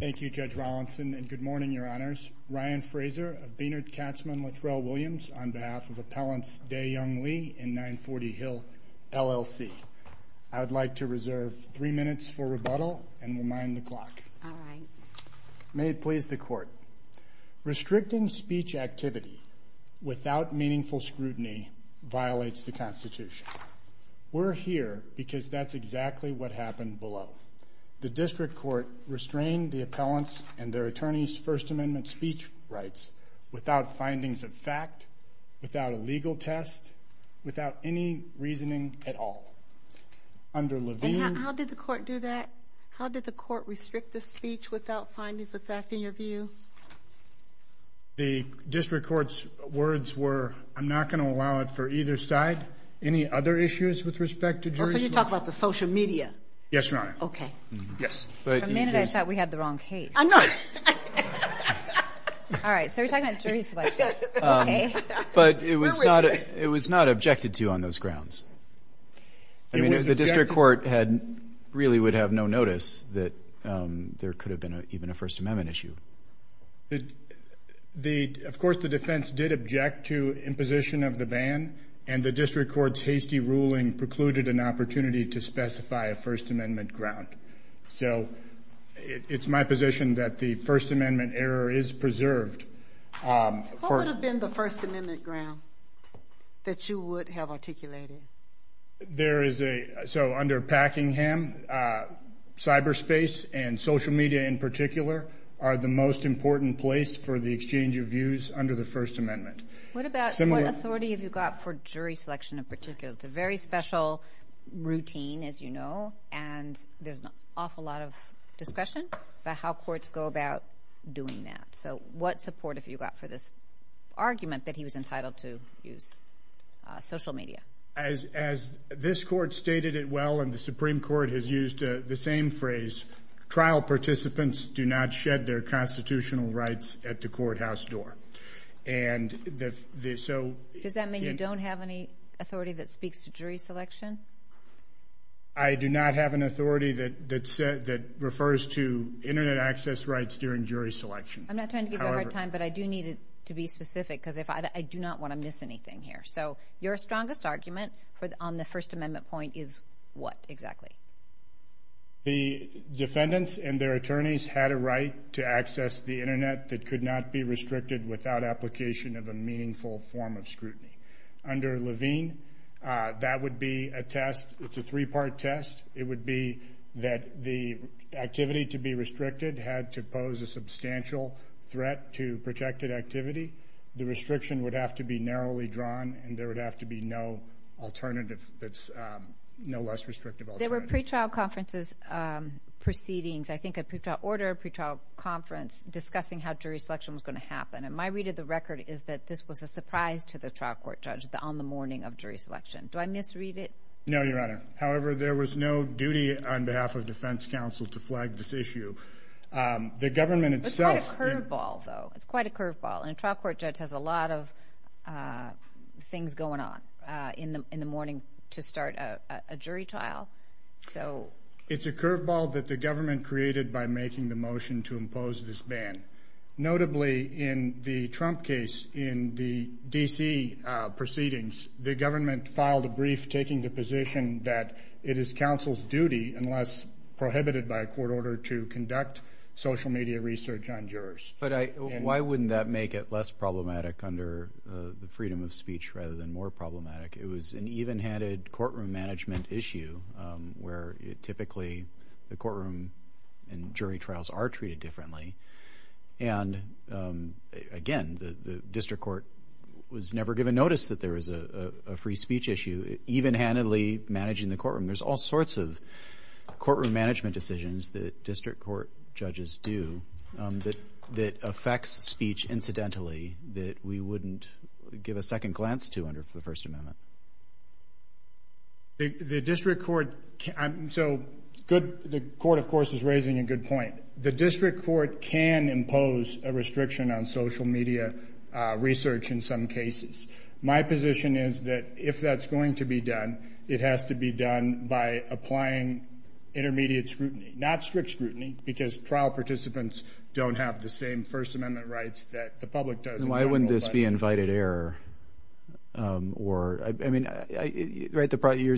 Thank you, Judge Rollinson, and good morning, Your Honors. Ryan Frazer of Baynard Katzman Littrell Williams on behalf of Appellants Day Young Lee and 940 Hill LLC. I would like to reserve three minutes for rebuttal and remind the Court. May it please the Court. Restricting speech activity without meaningful scrutiny violates the Constitution. We're here because that's exactly what happened below. The District Court restrained the appellants and their attorneys' First Amendment speech rights without findings of fact, without a legal test, without any reasoning at all. Under Levine... And how did the Court do that? How did the Court restrict the speech without findings of fact, in your view? The District Court's words were, I'm not going to allow it for either side. Any other issues with respect to jurisdiction? Oh, so you're talking about the social media? Yes, Your Honor. Okay. Yes. For a minute I thought we had the wrong case. I'm not. All right, so we're talking about jurisdiction. But it was not it was not objected to on those grounds. The District Court really would have no notice that there could have been even a First Amendment issue. Of course the defense did object to imposition of the ban and the District Court's hasty ruling precluded an opportunity to specify a First Amendment ground. So it's my position that the First Amendment error is preserved. What would have been the First Amendment articulated? There is a, so under Packingham, cyberspace and social media in particular are the most important place for the exchange of views under the First Amendment. What about, what authority have you got for jury selection in particular? It's a very special routine, as you know, and there's an awful lot of discretion about how courts go about doing that. So what support have you got for this argument that he was entitled to use social media? As this court stated it well and the Supreme Court has used the same phrase, trial participants do not shed their constitutional rights at the courthouse door. And the, so... Does that mean you don't have any authority that speaks to jury selection? I do not have an authority that that said that refers to internet access rights during jury selection. I'm not trying to give you a hard time, but I do need it to be specific because if I do not want to miss anything here. So your strongest argument for the, on the First Amendment point is what exactly? The defendants and their attorneys had a right to access the internet that could not be restricted without application of a meaningful form of scrutiny. Under Levine, that would be a test, it's a three-part test. It would be that the activity to be restricted had to pose a substantial threat to protected activity. The restriction would have to be narrowly drawn and there would have to be no alternative that's no less restrictive. There were pre-trial conferences proceedings, I think a pre-trial order, a pre-trial conference discussing how jury selection was going to happen. And my read of the record is that this was a surprise to the trial court judge on the morning of jury selection. Do I misread it? No, Your Honor. However, there was no duty on behalf of defense counsel to flag this issue. The government itself... It's quite a curveball though. It's quite a curveball. And a trial court judge has a lot of things going on in the morning to start a jury trial. So... It's a curveball that the government created by making the motion to impose this ban. Notably, in the Trump case in the D.C. proceedings, the government filed a brief taking the position that it is counsel's duty, unless prohibited by a court order, to conduct social media research on jurors. But I... Why wouldn't that make it less problematic under the freedom of speech rather than more problematic? It was an even-handed courtroom management issue where typically the courtroom and jury the district court was never given notice that there was a free speech issue. Even-handedly managing the courtroom. There's all sorts of courtroom management decisions that district court judges do that affects speech incidentally that we wouldn't give a second glance to under the First Amendment. The district court... So good... The court, of course, is raising a good point. The district court can impose a restriction on social media research in some cases. My position is that if that's going to be done, it has to be done by applying intermediate scrutiny. Not strict scrutiny, because trial participants don't have the same First Amendment rights that the public does. Why wouldn't this be invited error? Or... I mean... You're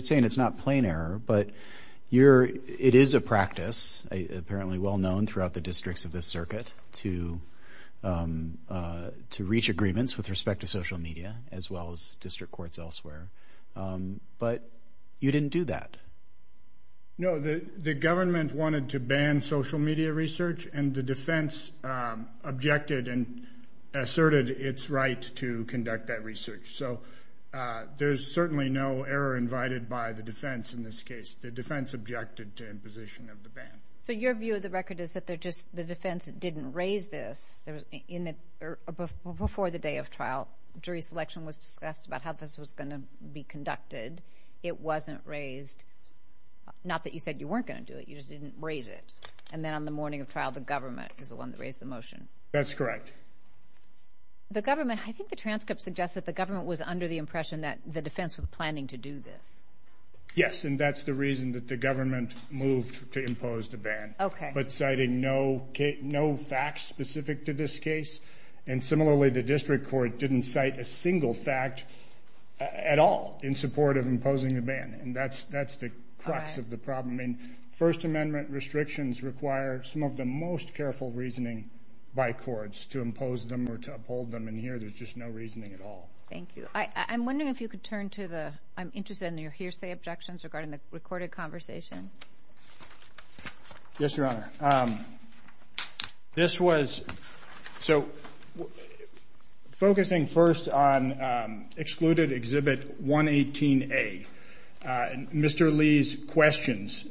saying it's not plain error, but you're... It is a practice, apparently well-known throughout the districts of this circuit, to reach agreements with respect to social media as well as district courts elsewhere. But you didn't do that. No, the government wanted to ban social media research and the defense objected and asserted its right to conduct that research. So there's certainly no error invited by the defense in this case. The defense objected to imposition of the ban. So your view of the record is that they're just... The defense didn't raise this. There was... Before the day of trial, jury selection was discussed about how this was going to be conducted. It wasn't raised. Not that you said you weren't going to do it. You just didn't raise it. And then on the morning of trial, the government is the one that raised the motion. That's correct. The government... I think the transcript suggests that the government was under the impression that the defense was planning to do this. Yes, and that's the reason that the government moved to impose the ban. Okay. But citing no facts specific to this case. And similarly, the district court didn't cite a single fact at all in support of imposing the ban. And that's the crux of the problem. First Amendment restrictions require some of the most careful reasoning by courts to impose them or to uphold them. And here, there's just no reasoning at all. Thank you. I'm wondering if you could turn to the... I'm interested in your hearsay objections regarding the recorded conversation. Yes, Your Honor. This was... So, focusing first on excluded Exhibit 118A, Mr. Lee's questions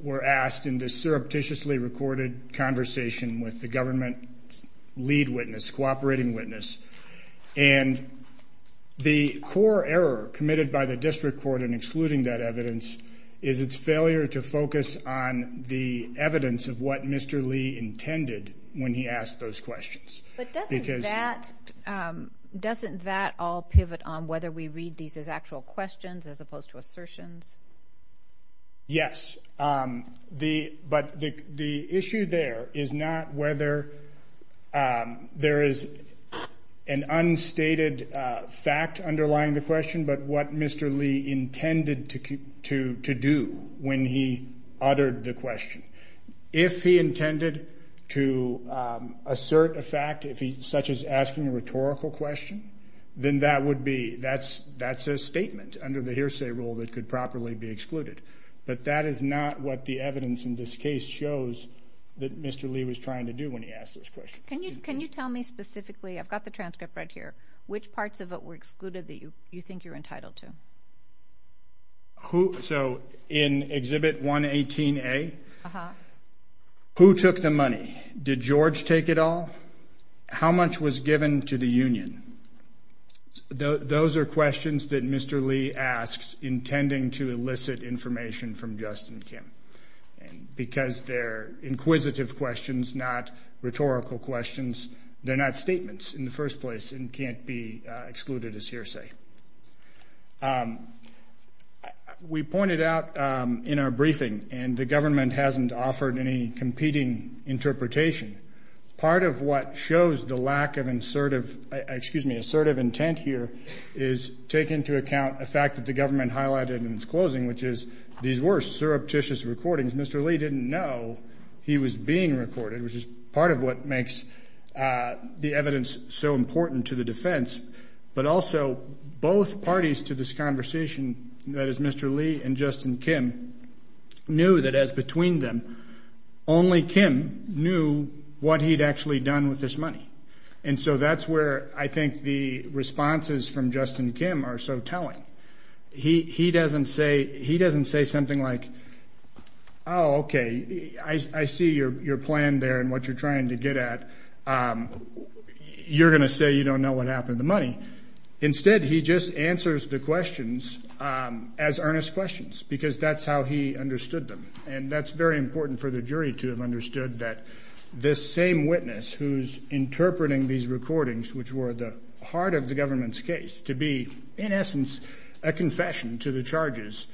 were asked in this surreptitiously recorded conversation with the government lead witness, cooperating witness. And the core error committed by the district court in excluding that evidence is its failure to focus on the evidence of what Mr. Lee intended when he asked those questions. But doesn't that... Doesn't that all pivot on whether we read these as actual questions as opposed to assertions? Yes. Yes. But the issue there is not whether there is an unstated fact underlying the question, but what Mr. Lee intended to do when he uttered the question. If he intended to assert a fact, such as asking a rhetorical question, then that would be... That's a statement under the hearsay rule that could properly be excluded. But that is not what the evidence in this case shows that Mr. Lee was trying to do when he asked this question. Can you tell me specifically, I've got the transcript right here, which parts of it were excluded that you think you're entitled to? So, in Exhibit 118A, who took the money? Did George take it all? How much was given to the union? Those are questions that Mr. Lee asks intending to elicit information from Justin Kim. And because they're inquisitive questions, not rhetorical questions, they're not statements in the first place and can't be excluded as hearsay. We pointed out in our briefing, and the government hasn't offered any competing interpretation. Part of what shows the lack of assertive intent here is take into account a fact that the government highlighted in its closing, which is these were surreptitious recordings. Mr. Lee didn't know he was being recorded, which is part of what makes the evidence so important to the defense. But also, both parties to this conversation, that is Mr. Lee and Mr. Lee, as between them, only Kim knew what he'd actually done with this money. And so that's where I think the responses from Justin Kim are so telling. He doesn't say something like, oh, okay, I see your plan there and what you're trying to get at. You're gonna say you don't know what happened to the money. Instead, he just answers the questions as earnest questions, because that's how he understood them. And that's very important for the jury to have understood that this same witness who's interpreting these recordings, which were the heart of the government's case, to be, in essence, a confession to the charges,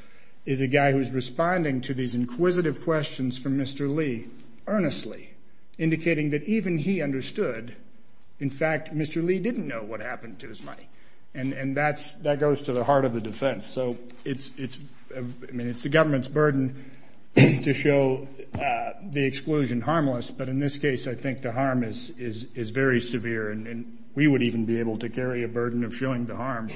is a guy who's responding to these inquisitive questions from Mr. Lee earnestly, indicating that even he understood. In fact, Mr. Lee didn't know what happened to his money. And that goes to the heart of the defense. So it's the government's burden to show the exclusion harmless. But in this case, I think the harm is very severe. And we would even be able to carry a burden of showing the harm,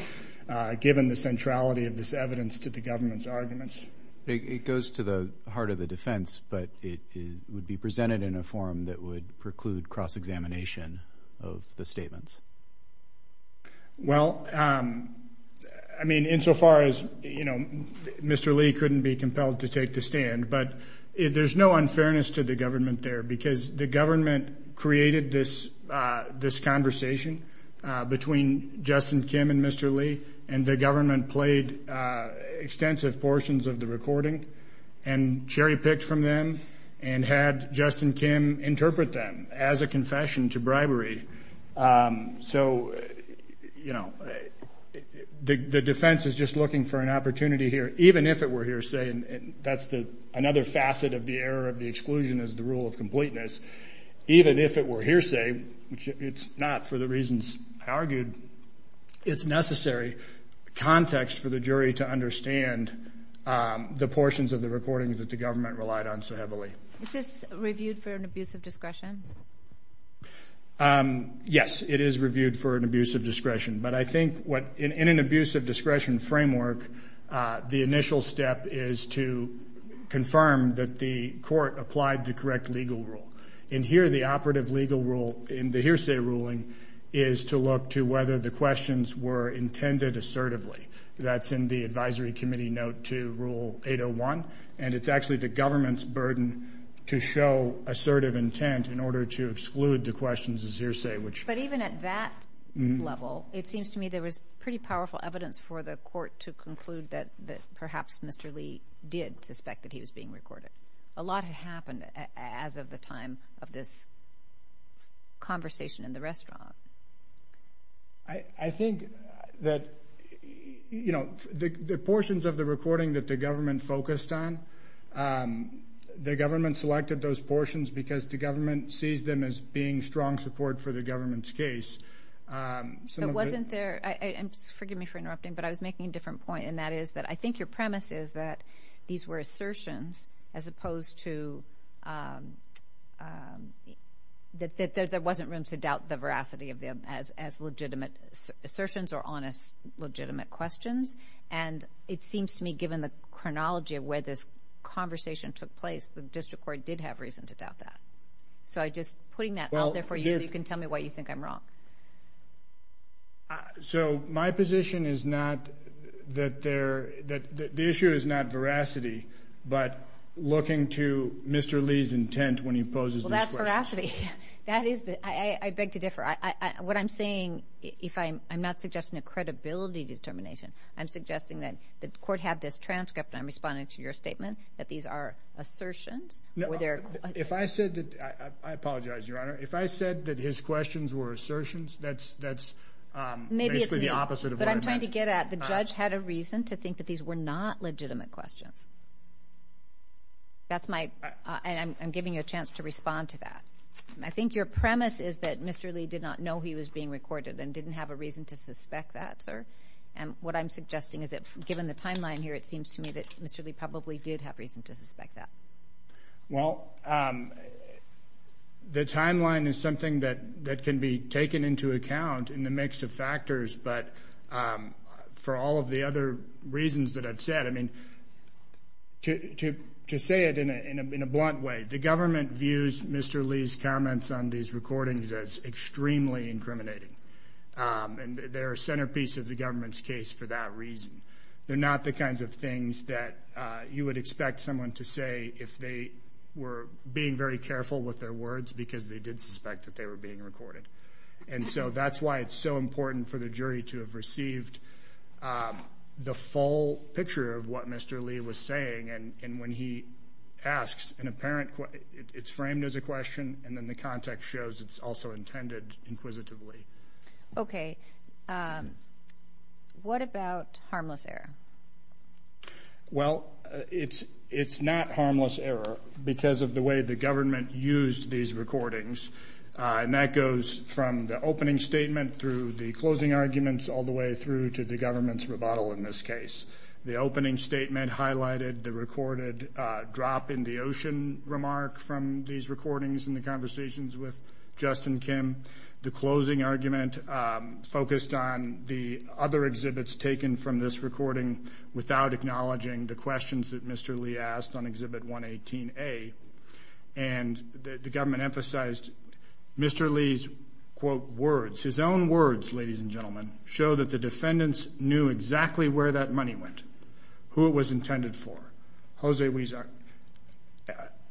given the centrality of this evidence to the government's arguments. It goes to the heart of the defense, but it would be presented in a form that would preclude cross-examination of the statements. Well, I mean, insofar as, you know, Mr. Lee couldn't be compelled to take the stand. But there's no unfairness to the government there, because the government created this conversation between Justin Kim and Mr. Lee, and the government played extensive portions of the recording and cherry-picked from them and had Justin Kim interpret them as a confession to bribery. So, you know, the defense is just looking for an opportunity here, even if it were hearsay. And that's another facet of the error of the exclusion is the rule of completeness. Even if it were hearsay, which it's not for the reasons argued, it's necessary context for the jury to understand the portions of the recordings that the government relied on so heavily. Is this reviewed for an abuse of discretion? Yes, it is reviewed for an abuse of discretion. But I think what, in an abuse of discretion framework, the initial step is to confirm that the court applied the correct legal rule. And here, the operative legal rule in the hearsay ruling is to look to whether the questions were intended assertively. That's in the advisory committee note to rule 801. And it's actually the government's burden to show assertive intent in order to exclude the questions as hearsay. But even at that level, it seems to me there was pretty powerful evidence for the court to conclude that perhaps Mr. Lee did suspect that he was being recorded. A lot had happened as of the time of this conversation in the restaurant. I think that, you know, the portions of the recording that the government focused on, the government selected those portions because the government sees them as being strong support for the government's case. So it wasn't there. Forgive me for interrupting, but I was making a different point. And that is that I think your premise is that these were assertions as opposed to that there wasn't room to doubt the veracity of them as legitimate assertions or honest, legitimate questions. And it seems to me, given the chronology of where this conversation took place, the district court did have reason to doubt that. So I just putting that out there for you so you can tell me why you think I'm wrong. So my position is not that there that the issue is not veracity, but looking to Mr. Lee's intent when he poses that veracity. That is, I beg to differ. I what I'm saying, if I'm not suggesting a credibility determination, I'm suggesting that the court had this transcript. I'm responding to your statement that these are assertions were there. If I said that I apologize, Your Honor, if I said that his questions were assertions, that's that's basically the opposite of what I'm trying to get at. The judge had a reason to think that these were not legitimate questions. That's my I'm giving you a chance to respond to that. I think your premise is that Mr Lee did not know he was being recorded and didn't have a reason to suspect that, sir. And what I'm suggesting is that, given the timeline here, it seems to me that Mr Lee probably did have reason to suspect that. Well, the timeline is something that that can be taken into account in the mix of factors. But for all of the other reasons that I've said, I mean, to say it in a in a in a blunt way, the government views Mr Lee's comments on these recordings as extremely incriminating on their centerpiece of the government's case. For that reason, they're not the kinds of things that you would expect someone to say if they were being very careful with their words because they did suspect that they were being recorded. And so that's why it's so important for the jury to have received the full picture of what Mr Lee was saying. And when he asks an apparent it's framed as a question, and then the context shows it's also intended inquisitively. Okay. What about harmless error? Well, it's it's not harmless error because of the way the government used these recordings on that goes from the opening statement through the closing arguments all the way through to the government's rebuttal. In this case, the opening statement highlighted the recorded drop in the ocean remark from these recordings in the conversations with Justin Kim. The closing argument focused on the other exhibits taken from this recording without acknowledging the questions that Mr Lee asked on Exhibit 118 A. And the government emphasized Mr Lee's quote words. His own words, ladies and gentlemen, show that the defendants knew exactly where that money went, who it was intended for. Jose Weezer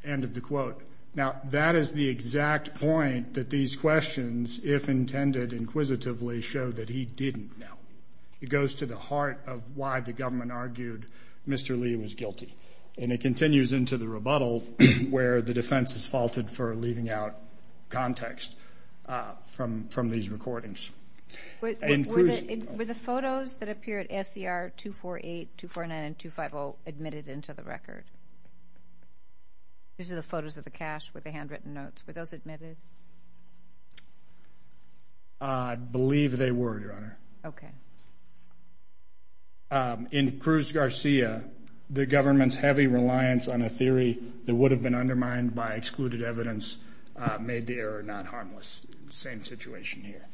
ended the quote. Now that is the exact point that these questions, if intended inquisitively, show that he didn't know. It goes to the heart of why the government argued Mr Lee was guilty, and it continues into the rebuttal where the defense is faulted for leaving out context from from these recordings. Were the photos that appear at SCR 248, 249 and 250 admitted into the record? These are the photos of the cash with the handwritten notes. Were those admitted? I believe they were, Your Honor. Okay. In Cruz Garcia, the government's heavy reliance on a theory that would have been undermined by excluded evidence made the error not harmless. Same situation here.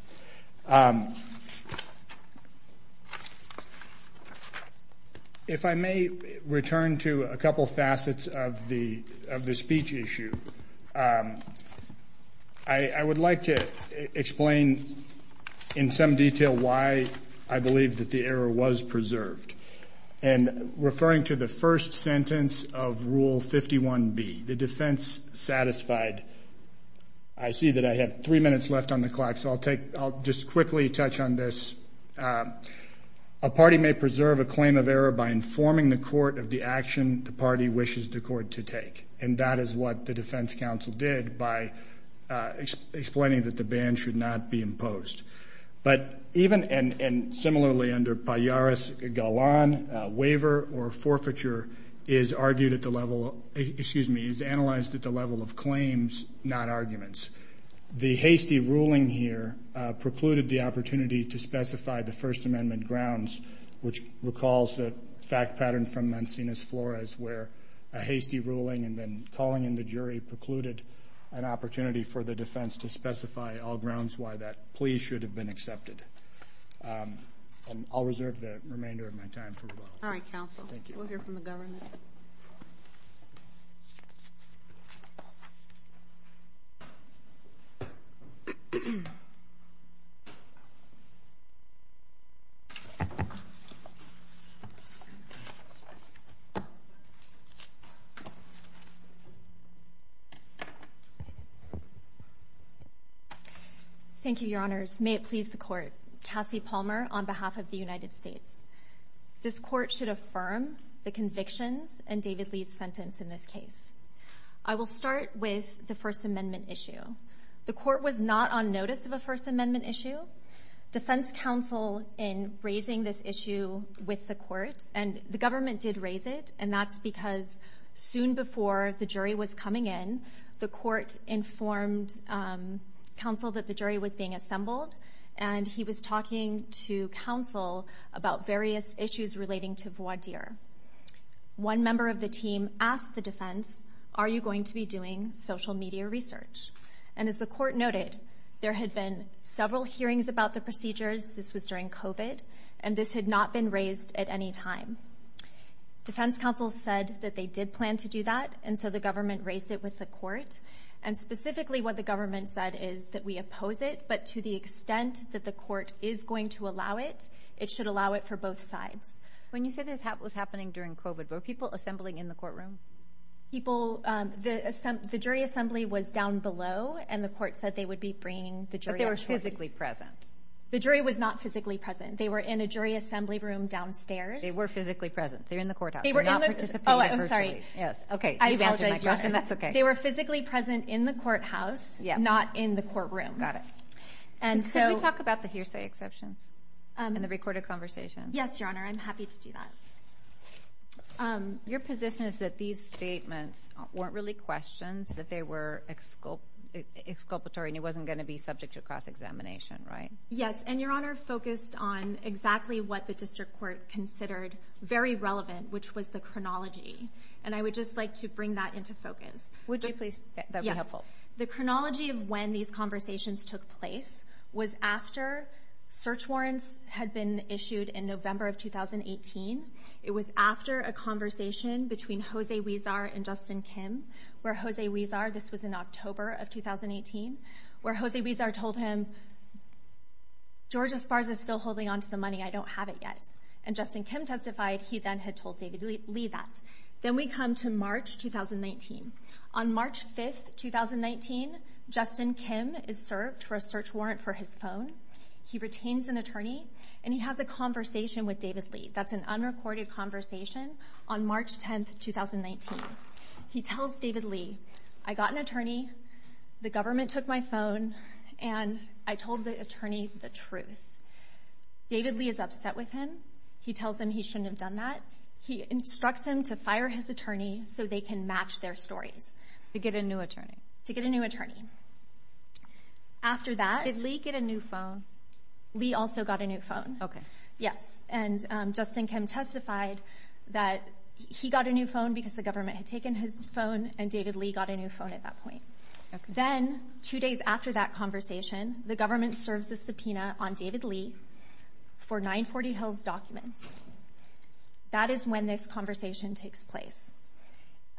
If I may return to a couple facets of the of the speech issue, I would like to explain in some detail why I believe that the error was preserved and referring to the first sentence of Rule 51 B, the defense satisfied. I see that I have three minutes left on the clock, so I'll take I'll just quickly touch on this. A party may preserve a claim of error by informing the court of the action the party wishes the court to take, and that is what the defense counsel did by explaining that the ban should not be imposed. But even and similarly under Pajaros Galan, waiver or forfeiture is argued at the level excuse me, is analyzed at the level of claims, not arguments. The hasty ruling here precluded the opportunity to specify the First Amendment grounds, which recalls the fact pattern from Mancini's Flores, where a hasty ruling and then calling in the jury precluded an opportunity for the defense to specify all grounds why that plea should have been accepted. And I'll reserve the remainder of my time for rebuttal. All right, counsel. Thank you. We'll hear from the government. Thank you, Your Honors. May it please the court. Cassie Palmer on behalf of the United States. This court should affirm the convictions and David Lee's sentence. In this case, I will start with the First Amendment issue. The court was not on notice of a First Amendment issue. Defense counsel in raising this issue with the court and the government did raise it. And that's because soon before the jury was coming in, the court informed counsel that the jury was being assembled, and he was talking to counsel about various issues relating to voir dire. One member of the team asked the defense, Are you going to be doing social media research? And as the court noted, there had been several hearings about the procedures. This was during COVID, and this had not been raised at any time. Defense counsel said that they did plan to do that. And so the government raised it with the court and specifically what the government said is that we oppose it. But to the extent that the court is going to allow it, it should allow it for both sides. When you said this was happening during COVID, were people assembling in the courtroom? People... The jury assembly was down below, and the court said they would be bringing the jury actually. But they were physically present. The jury was not physically present. They were in a jury assembly room downstairs. They were physically present. They're in the courthouse. They were in the... Oh, I'm sorry. Yes. Okay. You've answered my question. That's okay. They were physically present in the courthouse, not in the courtroom. Got it. And so... Can we talk about the hearsay exceptions and the recorded conversations? Yes, Your Honor. I'm happy to do that. Your position is that these statements weren't really questions, that they were exculpatory, and it wasn't gonna be subject to cross examination, right? Yes. And Your Honor, focused on exactly what the district court considered very relevant, which was the chronology. And I would just like to bring that into focus. Would you please? That would be helpful. Yes. The chronology of when these conversations took place was after search warrants had been issued in November of 2018. It was after a conversation between Jose Huizar and Justin Kim, where Jose Huizar... This was in October of 2018, where Jose Huizar told him, Georgia Spars is still holding on to the money. I don't have it yet. And Justin Kim testified he then had told David Lee that. Then we come to March 2019. On March 5th, 2019, Justin Kim is served for a search warrant for his phone. He retains an attorney and he has a conversation with David Lee. That's an unrecorded conversation on March 10th, 2019. He tells David Lee, I got an attorney, the government took my phone and I told the attorney the truth. David Lee is upset with him. He tells him he shouldn't have done that. He instructs him to fire his attorney so they can match their stories. To get a new attorney? To get a new attorney. After that... Did Lee get a new phone? Lee also got a new phone. Okay. Yes. And Justin Kim testified that he got a new phone because the government had taken his phone and David Lee got a new phone at that point. Then, two days after that conversation, the government serves a subpoena on David Lee for 940 Hills documents. That is when this conversation takes place.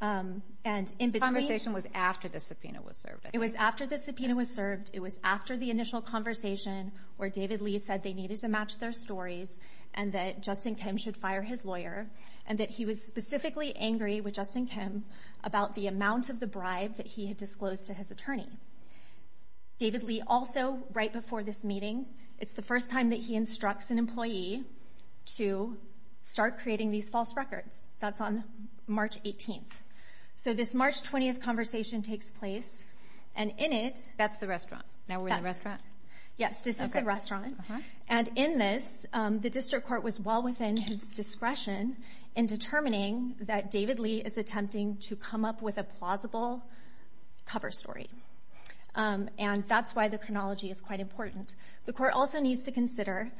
And in between... The conversation was after the subpoena was served. It was after the subpoena was served. It was after the initial conversation where David Lee said they needed to match their stories and that Justin Kim should fire his lawyer and that he was specifically angry with Justin Kim about the amount of the bribe that he had disclosed to his attorney. David Lee also, right before this meeting, it's the first time that he instructs an employee to start creating these false records. That's on March 18th. So this March 20th conversation takes place and in it... That's the restaurant. Now we're in the restaurant? Yes, this is the restaurant. And in this, the district court was well within his discretion in determining that David Lee is attempting to come up with a plausible cover story. And that's why the chronology is quite important. The court also needs to consider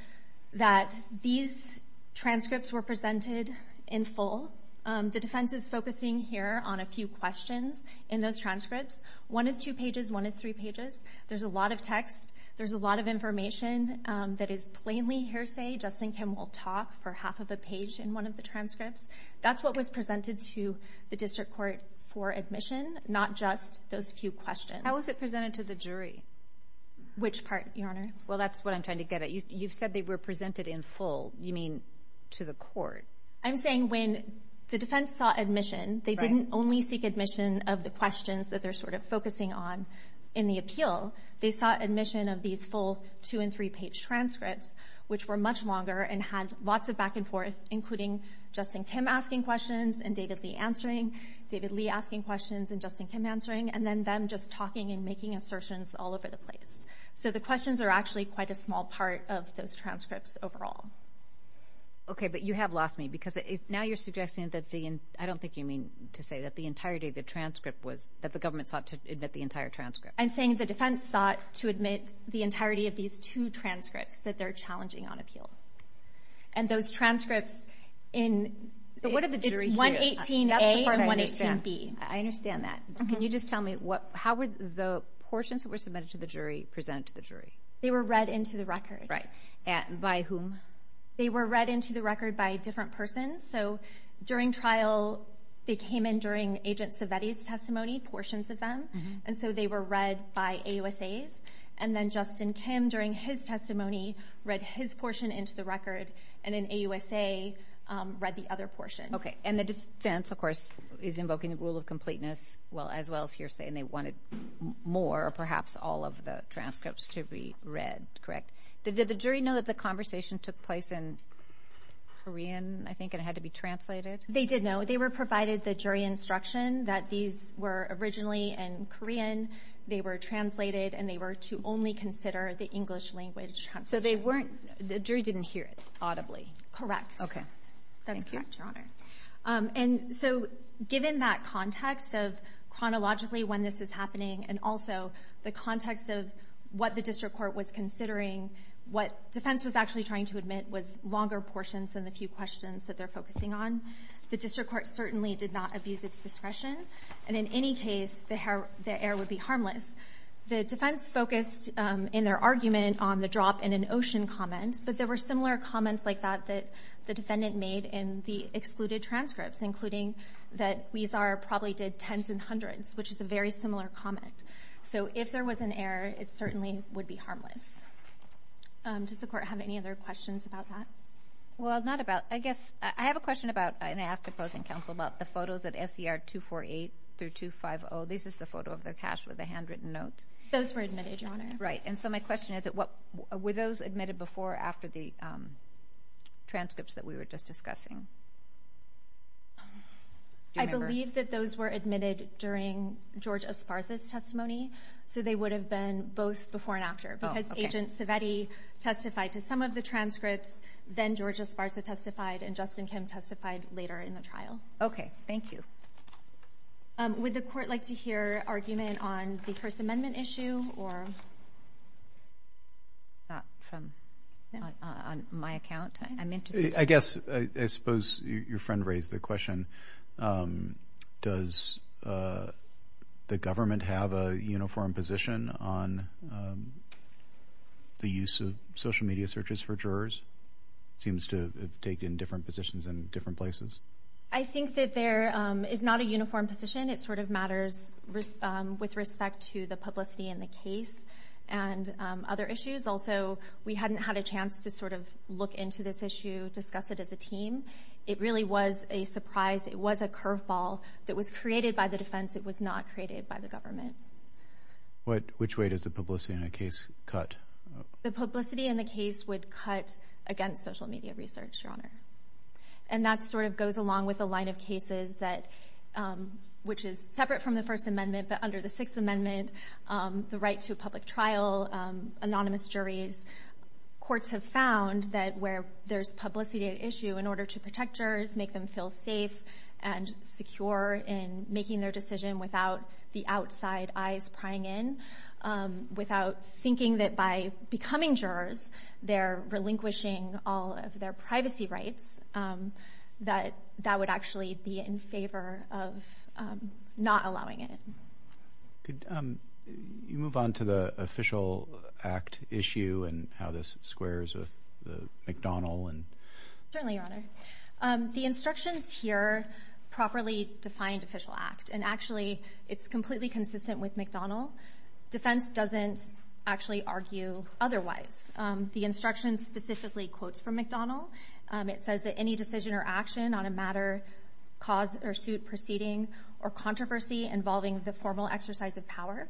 that these transcripts were presented in full. The defense is focusing here on a few questions in those transcripts. One is two pages, one is three pages. There's a lot of text. There's a lot of information that is plainly hearsay. Justin Kim will talk for half of a page in one of the transcripts. That's what was presented to the district court for admission, not just those few questions. How was it presented to the jury? Which part, Your Honor? Well, that's what I'm trying to get at. You've said they were presented in full. You mean to the court? I'm saying when the defense sought admission, they didn't only seek admission of the questions that they're sort of focusing on in the appeal. They sought admission of these full two and three page transcripts, which were much longer and had lots of back and forth, including Justin Kim asking questions and David Lee answering, David Lee asking questions and Justin Kim answering, and then them just talking and making assertions all over the place. So the questions are actually quite a small part of those transcripts overall. Okay, but you have lost me because now you're suggesting that the... I don't think you mean to say that the entirety of the transcript was... That the government sought to admit the entire transcript. I'm saying the defense sought to admit the entirety of these two transcripts that they're challenging on appeal. And those transcripts in... But what did the jury hear? It's 118A and 118B. I understand that. Can you just tell me how were the portions that were submitted to the jury presented to the jury? They were read into the record. Right. And by whom? They were read into the record by a different person. So during trial, they came in during Agent Savetti's testimony, portions of them, and so they were read by AUSAs. And then Justin Kim, during his testimony, read his portion into the record and an AUSA read the other portion. Okay. And the defense, of course, is invoking the rule of completeness as well as hearsay, and they wanted more, perhaps all of the transcripts to be read, correct? Did the jury know that the conversation took place in Korean, I think, and it had to be translated? They did know. They were provided the jury instruction that these were originally in Korean, they were translated, and they were to only consider the English language transcript. So they weren't... The jury didn't hear it audibly? Correct. Okay. That's correct, Your Honor. And so given that context of chronologically when this is happening, and also the context of what the district court was considering, what defense was actually trying to admit was longer portions than the few questions that they're focusing on. The district court certainly did not abuse its discretion, and in any case, the error would be harmless. The defense focused in their argument on the drop in an ocean comment, but there were similar comments like that that the defendant made in the excluded transcripts, that Huizar probably did tens and hundreds, which is a very similar comment. So if there was an error, it certainly would be harmless. Does the court have any other questions about that? Well, not about... I guess... I have a question about, and I asked opposing counsel about the photos at SCR 248 through 250. This is the photo of the cache with the handwritten notes. Those were admitted, Your Honor. Right. And so my question is, were those admitted before or after the transcripts that we were just discussing? Do you remember? I believe that those were admitted during George Esparza's testimony, so they would have been both before and after, because Agent Civetti testified to some of the transcripts, then George Esparza testified, and Justin Kim testified later in the trial. Okay. Thank you. Would the court like to hear argument on the First Amendment issue or... Not from... On my account, I'm interested... I guess, I suppose your friend raised the question, does the government have a uniform position on the use of social media searches for jurors? It seems to have taken different positions in different places. I think that there is not a uniform position. It sort of matters with respect to the publicity in the case and other issues. Also, we hadn't had a chance to sort of look into this issue, discuss it as a team. It really was a surprise. It was a curveball that was created by the defense. It was not created by the government. Which way does the publicity in the case cut? The publicity in the case would cut against social media research, Your Honor. And that sort of goes along with the line of cases that... Which is separate from the First Amendment, but under the Sixth Amendment, the right to a public trial, anonymous juries. Courts have found that where there's publicity at issue in order to protect jurors, make them feel safe and secure in making their decision without the outside eyes prying in, without thinking that by becoming jurors, they're relinquishing all of their privacy rights, that would actually be in favor of not allowing it. You move on to the Official Act issue and how this squares with the McDonnell and... Certainly, Your Honor. The instructions here properly defined Official Act, and actually, it's completely consistent with McDonnell. Defense doesn't actually argue otherwise. The instructions specifically quotes from McDonnell. It says that any decision or action on a matter, cause or suit proceeding, or controversy involving the formal exercise of power.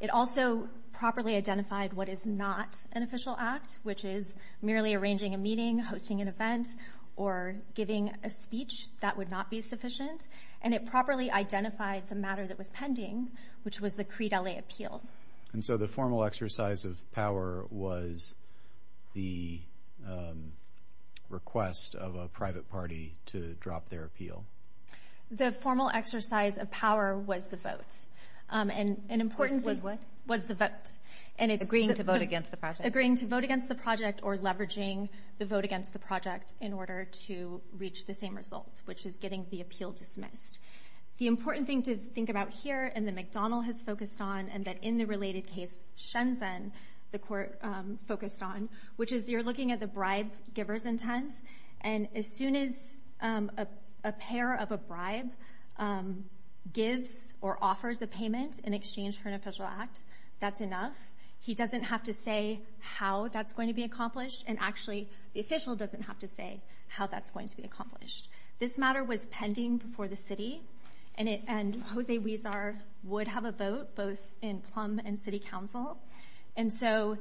It also properly identified what is not an Official Act, which is merely arranging a meeting, hosting an event, or giving a speech. That would not be sufficient. And it properly identified the matter that was pending, which was the Crete L.A. Appeal. And so the formal exercise of power was the request of a private party to drop their appeal. The formal exercise of power was the vote. And an important... Was what? Was the vote. Agreeing to vote against the project. Agreeing to vote against the project or leveraging the vote against the project in order to reach the same result, which is getting the appeal dismissed. The important thing to think about here and that McDonnell has focused on, and that in the related case, Shenzhen, the court focused on, which is you're looking at the bribe giver's intent. And as soon as a payer of a bribe gives or offers a payment in exchange for an Official Act, that's enough. He doesn't have to say how that's going to be accomplished. And actually, the official doesn't have to say how that's going to be accomplished. This matter was pending before the city, and Jose Huizar would have a vote both in Plum and City Council. And so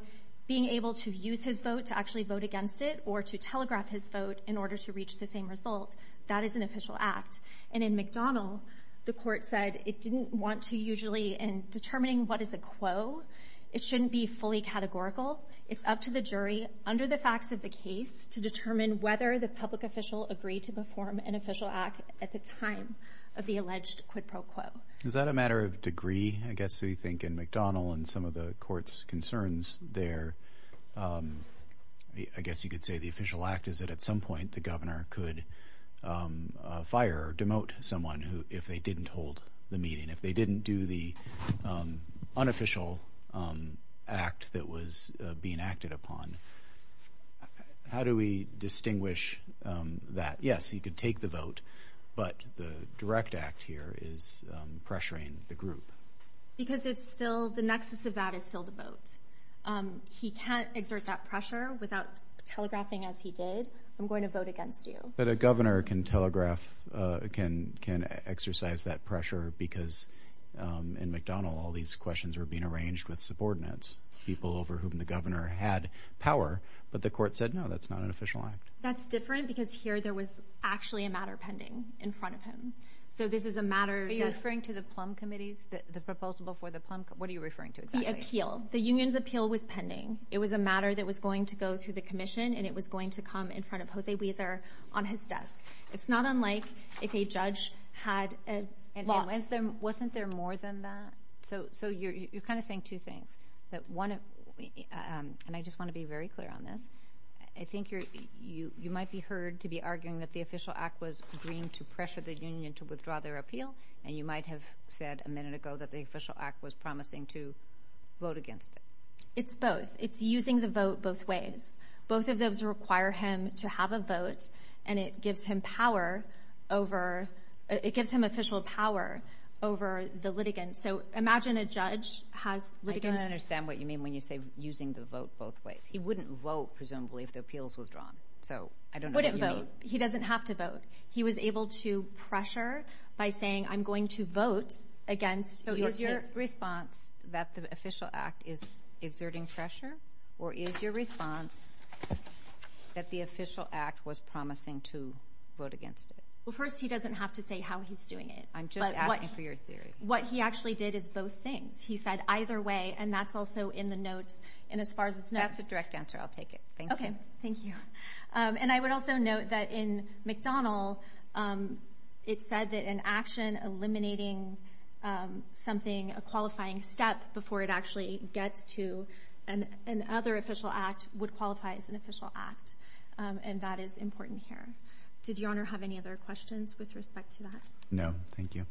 being able to use his vote to actually vote against it or to telegraph his vote in order to reach the same result, that is an official act. And in McDonnell, the court said it didn't want to usually... In determining what is a quo, it shouldn't be fully categorical. It's up to the jury, under the facts of the case, to determine whether the public official agreed to perform an Official Act at the time of the alleged quid pro quo. Is that a matter of degree? I guess we think in McDonnell and some of the court's concerns there, I guess you could say the Official Act is that at some point, the governor could fire or demote someone if they didn't hold the meeting, if they didn't do the unofficial act that was being acted upon. How do we distinguish that? Yes, he could take the vote, but the direct act here is pressuring the group. Because it's still... The nexus of that is still the vote. He can't exert that pressure without telegraphing as he did. I'm going to vote against you. But a governor can telegraph, can exercise that pressure because in McDonnell, all these questions were being arranged with subordinates, people over whom the governor had power, but the court said, no, that's not an official act. That's different because here, there was actually a matter pending in front of him. So this is a matter that... Are you referring to the plum committees, the proposal for the plum... What are you referring to exactly? The appeal. The union's appeal was pending. It was a matter that was going to go through the commission, and it was going to come in front of Jose Wieser on his desk. It's not unlike if a judge had a law... And wasn't there more than that? So you're kind of saying two things, that one... And I just wanna be very clear on this. I think you might be heard to be arguing that the Official Act was agreeing to pressure the union to withdraw their appeal, and you might have said a minute ago that the Official Act was promising to vote against it. It's both. It's using the vote both ways. Both of those require him to have a vote, and it gives him power over... It gives him official power over the litigants. So imagine a judge has litigants... I don't understand what you mean when you say using the vote both ways. He wouldn't vote, presumably, if the appeals was drawn. So I don't know what you mean. Wouldn't vote. He doesn't have to vote. He was able to pressure by saying, I'm going to vote against... Is your response that the Official Act is exerting pressure, or is your response that the Official Act was promising to vote against it? Well, first, he doesn't have to say how he's doing it. I'm just asking for your theory. What he actually did is both things. He said either way, and that's also in the notes, and as far as it's notes... That's a direct answer. I'll take it. Thank you. Okay. Thank you. And I would also note that in McDonald, it said that an action eliminating something, a qualifying step before it actually gets to an other Official Act, would qualify as an Official Act, and that is important here. Did Your Honor have any other questions with respect to that? No. Thank you.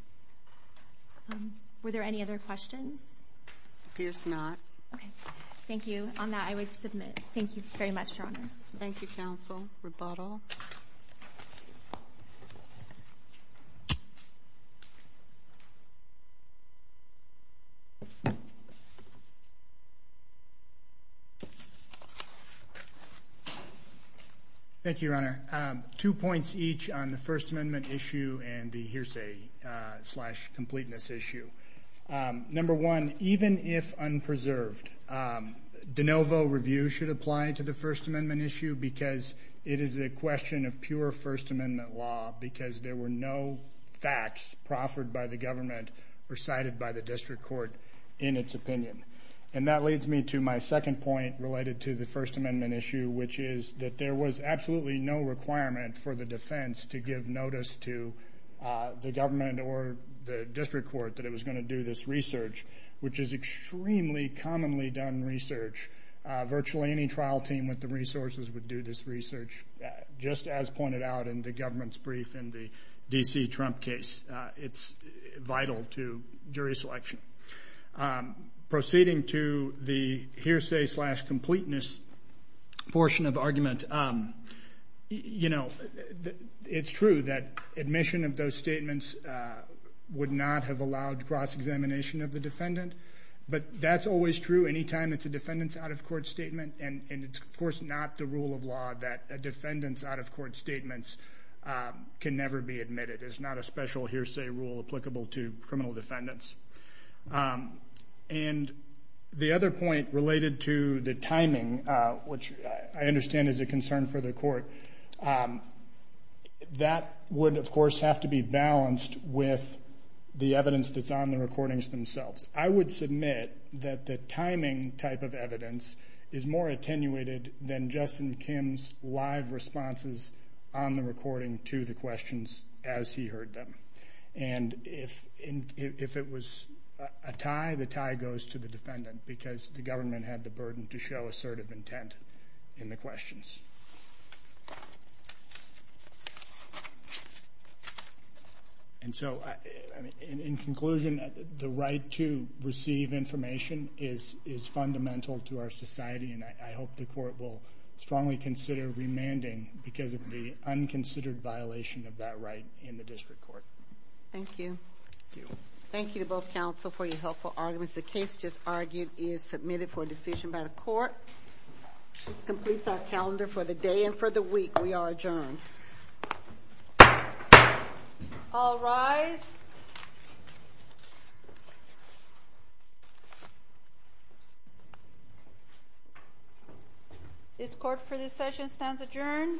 Were there any other questions? Appears not. Okay. Thank you. On that, I would submit. Thank you very much, Your Honors. Thank you, counsel. Rebuttal. Thank you, Your Honor. Two points each on the First Amendment issue and the hearsay slash completeness issue. Number one, even if unpreserved, de novo review should apply to the First Amendment issue because it is a question of pure First Amendment law because there were no facts proffered by the government or cited by the district court in its opinion. And that leads me to my second point related to the First Amendment issue, which is that there was absolutely no requirement for the defense to give notice to the government or the district court that it was gonna do this research, which is extremely commonly done research. Virtually any trial team with the resources would do this research, just as pointed out in the government's brief in the D.C. Trump case. It's vital to jury selection. Proceeding to the hearsay slash completeness portion of argument, it's true that admission of those statements would not have allowed cross examination of the defendant, but that's always true anytime it's a defendant's out of court statement. And it's, of course, not the rule of law that a defendant's out of court statements can never be admitted. It's not a special hearsay rule applicable to criminal defendants. And the other point related to the timing, which I understand is a concern for the court, that would, of course, have to be balanced with the evidence that's on the recordings themselves. I would submit that the timing type of evidence is more attenuated than Justin Kim's live responses on the recording to the questions as he heard them. And if it was a tie, the tie goes to the defendant, because the government had the burden to show assertive intent in the questions. And so, in conclusion, the right to receive information is fundamental to our society, and I hope the court will strongly consider remanding because of the unconsidered violation of that right in the district court. Thank you. Thank you. Thank you to both counsel for your helpful arguments. The case just argued is submitted for a decision by the court. This completes our calendar for the day and for the week. We are adjourned. All rise. This court for this session stands adjourned.